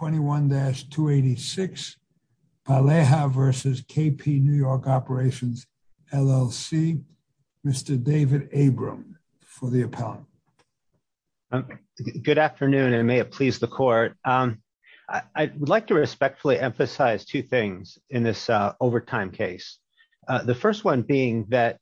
21-286, Palleja v. KP NY Operations LLC. Mr. David Abram for the appellant. Good afternoon and may it please the court. I would like to respectfully emphasize two things in this overtime case. The first one being that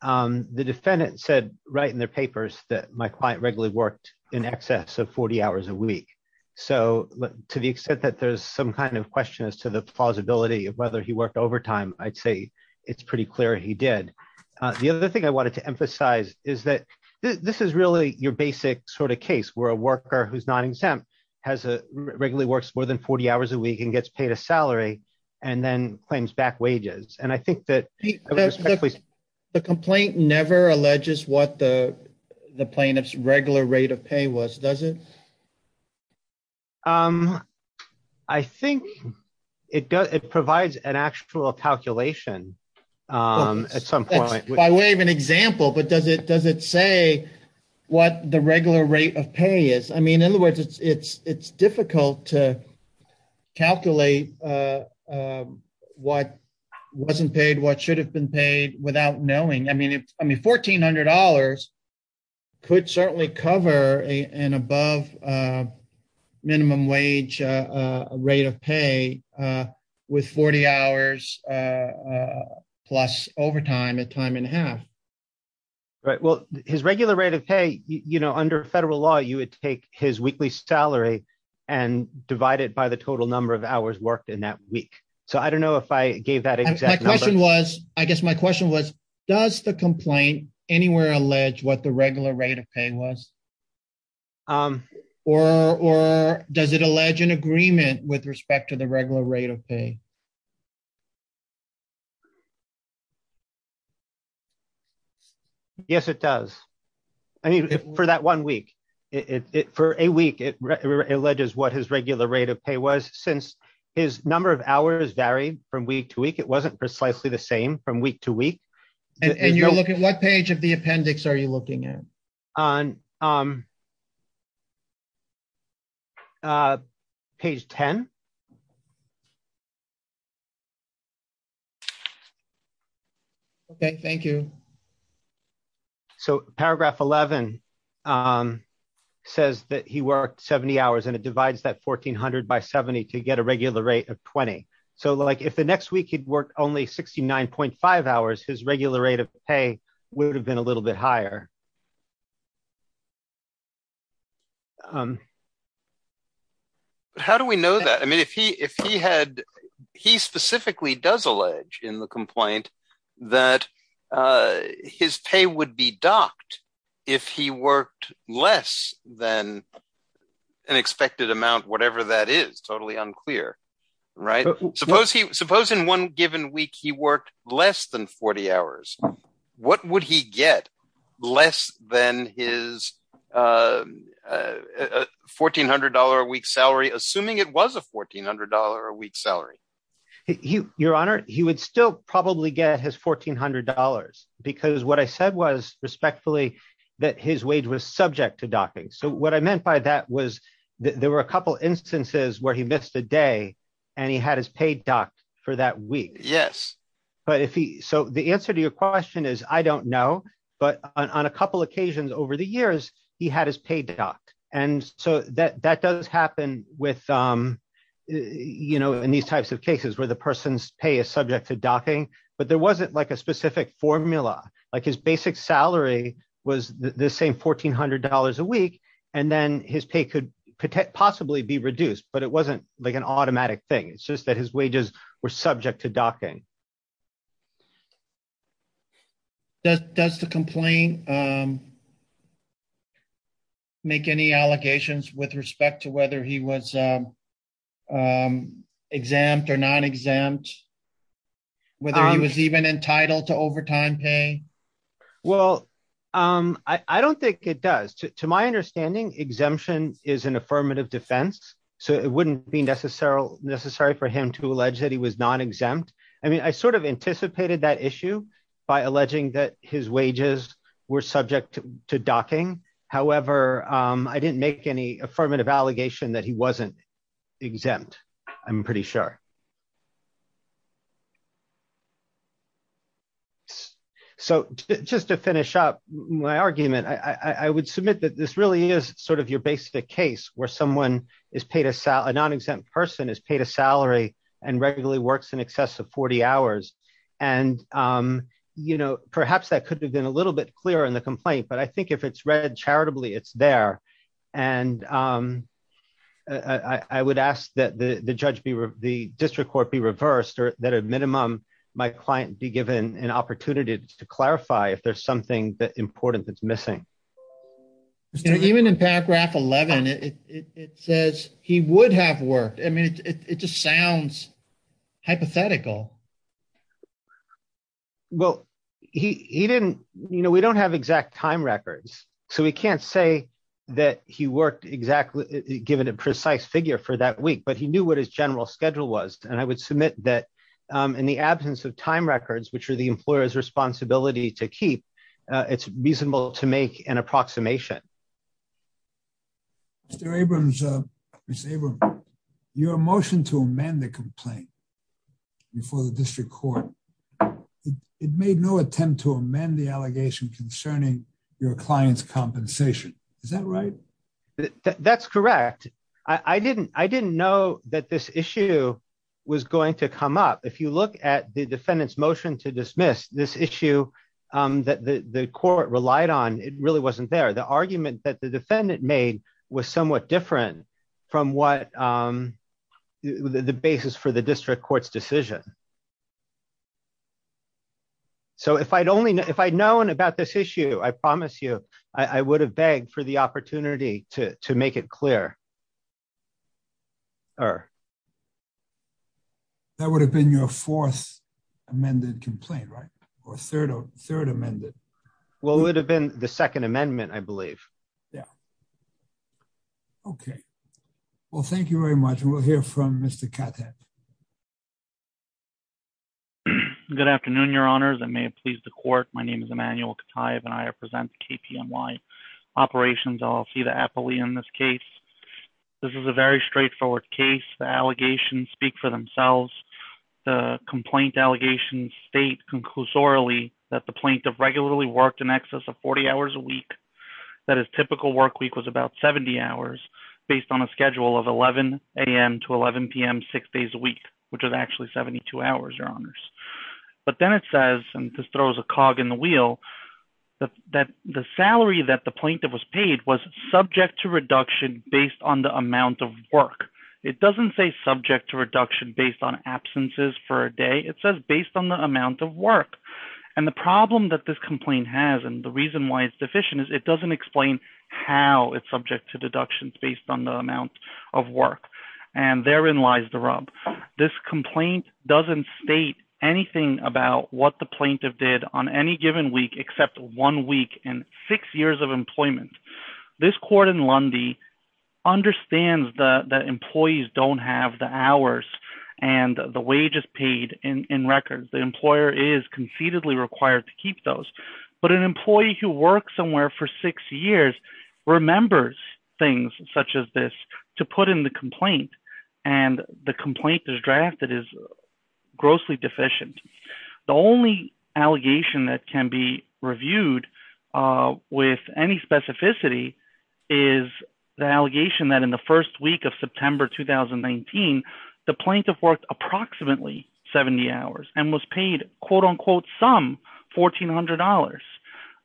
the defendant said right in their papers that my client regularly worked in excess of 40 hours a week. So to the extent that there's some kind of question as to the plausibility of whether he worked overtime, I'd say it's pretty clear he did. The other thing I wanted to emphasize is that this is really your basic sort of case where a worker who's not exempt regularly works more than 40 hours a week and gets paid a salary and then claims back wages. The complaint never alleges what the plaintiff's regular rate of pay was, does it? I think it provides an actual calculation at some point. By way of an example, but does it say what the regular rate of pay is? I mean, it's difficult to calculate what wasn't paid, what should have been paid without knowing. I mean, $1,400 could certainly cover an above minimum wage rate of pay with 40 hours plus overtime at time and a half. Right. Well, his regular rate of pay, under federal law, you would take his weekly salary and divide it by the total number of hours worked in that week. So I don't know if I gave that exact number. I guess my question was, does the complaint anywhere allege what the regular rate of pay was? Or does it allege an agreement with respect to the regular rate of pay? Yes, it does. I mean, for that one week, for a week, it alleges what his regular rate of pay was, since his number of hours varied from week to week, it wasn't precisely the same from week to week. And you're looking at what page of the appendix are you looking at? Page 10. Okay, thank you. So paragraph 11 says that he worked 70 hours and it divides that 1,400 by 70 to get a regular rate of 20. So if the next week he'd worked only 69.5 hours, his regular rate of pay would have been a little bit higher. How do we know that? If he had, he specifically does allege in the complaint that his pay would be docked if he worked less than an expected amount, whatever that is, totally unclear. Suppose in one given week, he worked less than 40 hours. What would he get less than his $1,400 a week salary, assuming it was a $1,400 a week salary? Your Honor, he would still probably get his $1,400 because what I said was respectfully that his wage was subject to docking. So what I meant by that was there were a couple instances where he missed a day and he had his pay docked for that week. So the answer to your question is, I don't know, but on a couple occasions over the years, he had his pay docked. And so that does happen in these types of cases where the person's pay is subject to docking, but there wasn't like a specific formula. Like his basic salary was the same $1,400 a week, and then his pay could possibly be reduced, but it wasn't like an automatic thing. It's that his wages were subject to docking. Does the complaint make any allegations with respect to whether he was exempt or non-exempt, whether he was even entitled to overtime pay? Well, I don't think it does. To my understanding, exemption is an affirmative defense, so it wouldn't be necessary for him to allege that he was non-exempt. I mean, I sort of anticipated that issue by alleging that his wages were subject to docking. However, I didn't make any affirmative allegation that he wasn't exempt, I'm pretty sure. So just to finish up my argument, I would submit that this really is sort of your basic case where a non-exempt person is paid a salary and regularly works in excess of 40 hours. Perhaps that could have been a little bit clearer in the complaint, but I think if it's read charitably, it's there. I would ask that the district court be reversed, or that at minimum, my client be given an opportunity to clarify if there's something important that's missing. You know, even in paragraph 11, it says he would have worked. I mean, it just sounds hypothetical. Well, we don't have exact time records, so we can't say that he worked given a precise figure for that week, but he knew what his general schedule was, and I would submit that in the absence of time records, which are the employer's responsibility to keep, it's reasonable to make an approximation. Mr. Abrams, your motion to amend the complaint before the district court, it made no attempt to amend the allegation concerning your client's compensation. Is that right? That's correct. I didn't know that this issue was going to come up. If you look at the argument that the defendant made was somewhat different from what the basis for the district court's decision. So if I'd known about this issue, I promise you, I would have begged for the opportunity to make it clearer. That would have been your fourth amended complaint, right? Third amended. Well, it would have been the second amendment, I believe. Yeah. Okay. Well, thank you very much. And we'll hear from Mr. Cotthead. Good afternoon, your honors. I may have pleased the court. My name is Emmanuel Cotthead, and I represent KPMY operations. I'll see the appellee in this case. This is a very straightforward case. Allegations speak for themselves. The complaint allegations state conclusorily that the plaintiff regularly worked in excess of 40 hours a week. That his typical work week was about 70 hours based on a schedule of 11 a.m. to 11 p.m. six days a week, which is actually 72 hours, your honors. But then it says, and this throws a cog in the wheel, that the salary that the plaintiff was was subject to reduction based on the amount of work. It doesn't say subject to reduction based on absences for a day. It says based on the amount of work. And the problem that this complaint has, and the reason why it's deficient, is it doesn't explain how it's subject to deductions based on the amount of work. And therein lies the rub. This complaint doesn't state anything about what plaintiff did on any given week except one week and six years of employment. This court in Lundy understands that employees don't have the hours and the wages paid in records. The employer is concededly required to keep those. But an employee who works somewhere for six years remembers things such as this to put in the complaint. And the complaint is drafted is grossly deficient. The only allegation that can be reviewed with any specificity is the allegation that in the first week of September 2019, the plaintiff worked approximately 70 hours and was paid, quote, unquote, some $1,400.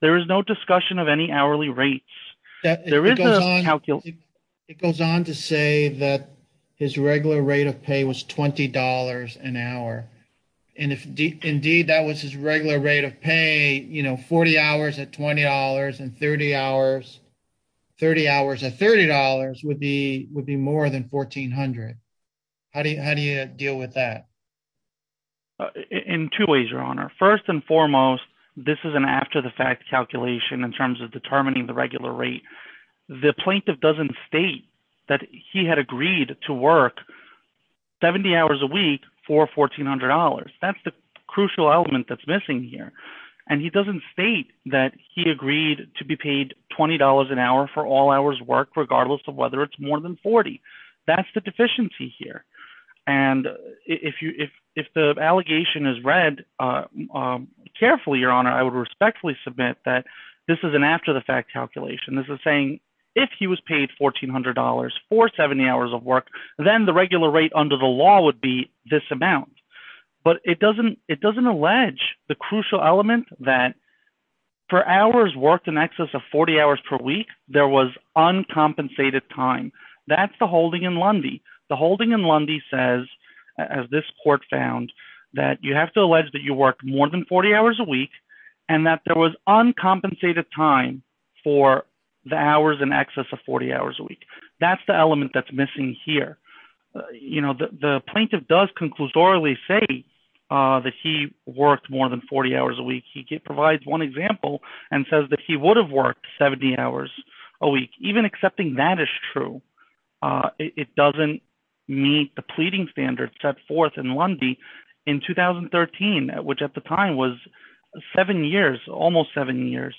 There is no discussion of any hourly rates. It goes on to say that his regular rate of pay was $20 an hour. And if indeed that was his regular rate of pay, you know, 40 hours at $20 and 30 hours at $30 would be more than $1,400. How do you deal with that? In two ways, Your Honor. First and foremost, this is an after-the-fact calculation in terms of determining the regular rate. The plaintiff doesn't state that he had agreed to work 70 hours a week for $1,400. That's the crucial element that's missing here. And he doesn't state that he agreed to be paid $20 an hour for all hours work, regardless of whether it's more than 40. That's the deficiency here. And if the allegation is read carefully, Your Honor, I would respectfully submit that this is an after-the-fact calculation. This is saying, if he was paid $1,400 for 70 hours of work, then the regular rate under the law would be this amount. But it doesn't allege the crucial element that for hours worked in excess of 40 hours per week, there was uncompensated time. That's the holding in Lundy. The holding in Lundy says, as this court found, that you have to allege that you worked more than 40 hours a week, and that there was uncompensated time for the hours in excess of 40 hours a week. That's the element that's missing here. You know, the plaintiff does conclusorily say that he worked more than 40 hours a week. He provides one example and says that he would have worked 70 hours a Monday in 2013, which at the time was seven years, almost seven years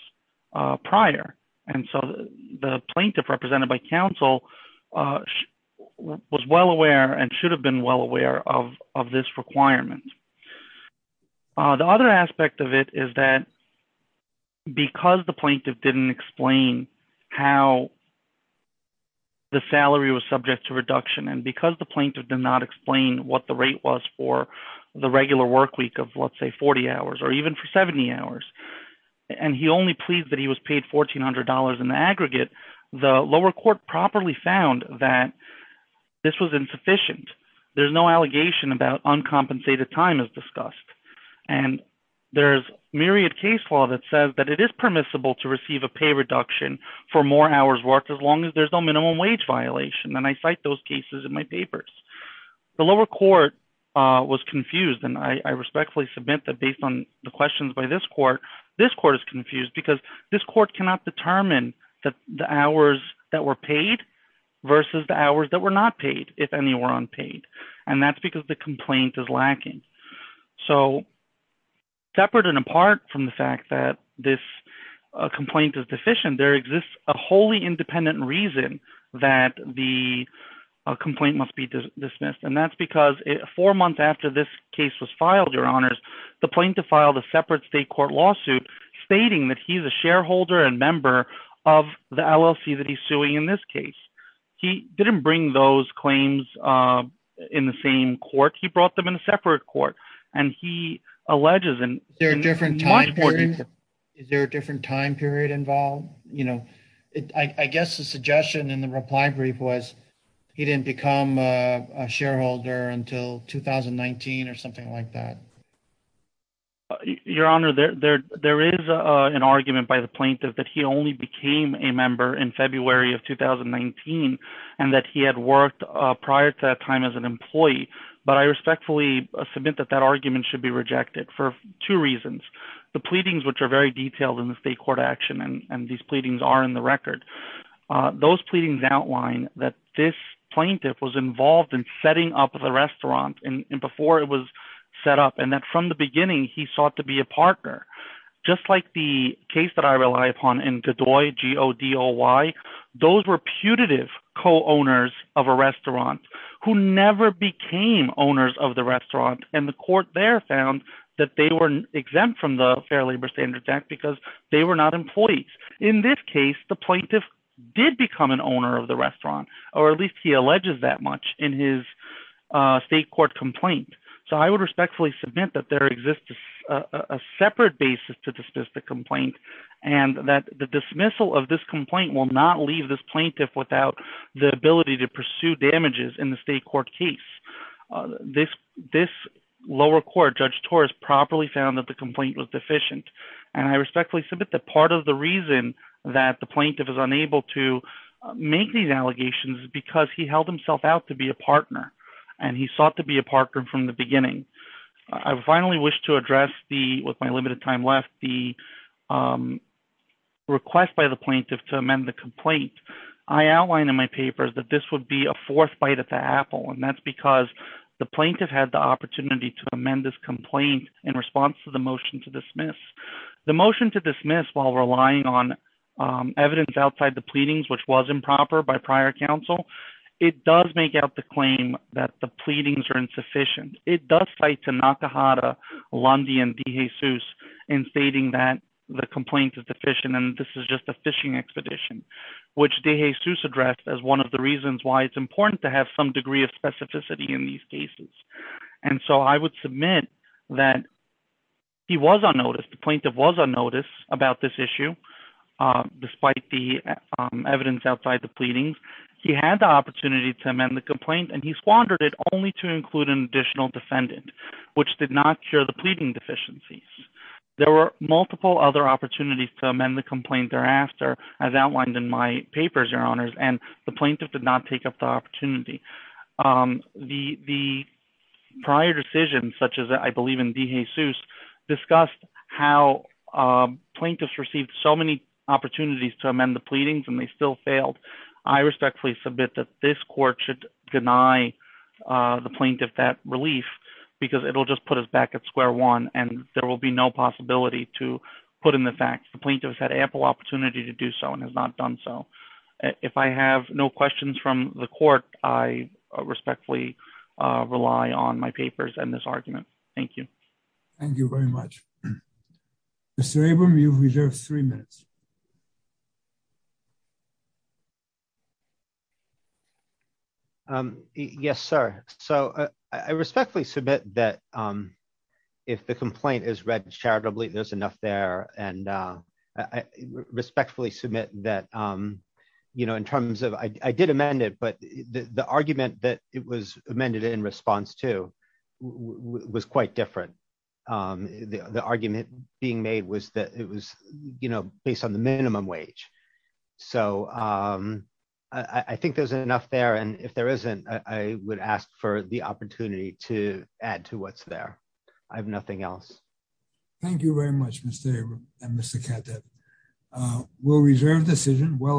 prior. And so the plaintiff represented by counsel was well aware and should have been well aware of this requirement. The other aspect of it is that because the plaintiff didn't explain how the salary was what the rate was for the regular work week of, let's say, 40 hours or even for 70 hours, and he only pleads that he was paid $1,400 in the aggregate, the lower court properly found that this was insufficient. There's no allegation about uncompensated time as discussed. And there's myriad case law that says that it is permissible to receive a pay reduction for more hours worked as long as there's no minimum wage violation. And I cite those cases in my papers. The lower court was confused, and I respectfully submit that based on the questions by this court, this court is confused because this court cannot determine the hours that were paid versus the hours that were not paid, if any were unpaid. And that's because the complaint is lacking. So separate and apart from the fact that this complaint is deficient, there exists a wholly independent reason that the complaint must be dismissed. And that's because four months after this case was filed, your honors, the plaintiff filed a separate state court lawsuit stating that he's a shareholder and member of the LLC that he's suing in this case. He didn't bring those claims in the same court. He brought them in a separate court. And he alleges in- Is there a different time period involved? I guess the suggestion in the reply brief was he didn't become a shareholder until 2019 or something like that. Your honor, there is an argument by the plaintiff that he only became a member in February of 2019 and that he had worked prior to that time as an employee. But I respectfully submit that argument should be rejected for two reasons. The pleadings, which are very detailed in the state court action, and these pleadings are in the record. Those pleadings outline that this plaintiff was involved in setting up the restaurant and before it was set up. And that from the beginning, he sought to be a partner. Just like the case that I rely upon in Godoy, G-O-D-O-Y, those were owners of the restaurant. And the court there found that they were exempt from the Fair Labor Standards Act because they were not employees. In this case, the plaintiff did become an owner of the restaurant, or at least he alleges that much in his state court complaint. So I would respectfully submit that there exists a separate basis to dismiss the complaint and that the dismissal of this complaint will not leave this plaintiff without the ability to pursue damages in the state court case. This lower court, Judge Torres, properly found that the complaint was deficient. And I respectfully submit that part of the reason that the plaintiff is unable to make these allegations is because he held himself out to be a partner. And he sought to be a partner from the beginning. I finally wish to address the, with my limited time left, the request by the plaintiff to And that's because the plaintiff had the opportunity to amend this complaint in response to the motion to dismiss. The motion to dismiss, while relying on evidence outside the pleadings, which was improper by prior counsel, it does make out the claim that the pleadings are insufficient. It does cite Tanakahata, Lundy, and DeJesus in stating that the complaint is deficient and this is just a fishing expedition, which DeJesus addressed as one of the reasons why it's specificity in these cases. And so I would submit that he was unnoticed, the plaintiff was unnoticed about this issue, despite the evidence outside the pleadings. He had the opportunity to amend the complaint and he squandered it only to include an additional defendant, which did not cure the pleading deficiencies. There were multiple other opportunities to amend the complaint thereafter, as outlined in my papers, your honors, and the plaintiff did not take up the opportunity. The prior decision, such as I believe in DeJesus, discussed how plaintiffs received so many opportunities to amend the pleadings and they still failed. I respectfully submit that this court should deny the plaintiff that relief because it'll just put us back at square one and there will be no possibility to put in the fact the plaintiff has had ample opportunity to do so and has not done so. If I have no questions from the court, I respectfully rely on my papers and this argument. Thank you. Thank you very much. Mr. Abram, you've reserved three minutes. Yes, sir. I respectfully submit that if the complaint is read charitably, there's enough there. I respectfully submit that in terms of, I did amend it, but the argument that it was amended in response to was quite different. The argument being made was that it was based on the minimum wage. I think there's enough there. If there isn't, I would ask for the opportunity to add to what's there. I have nothing else. Thank you very much, Mr. Abram and Mr. Katteb. We'll reserve the decision.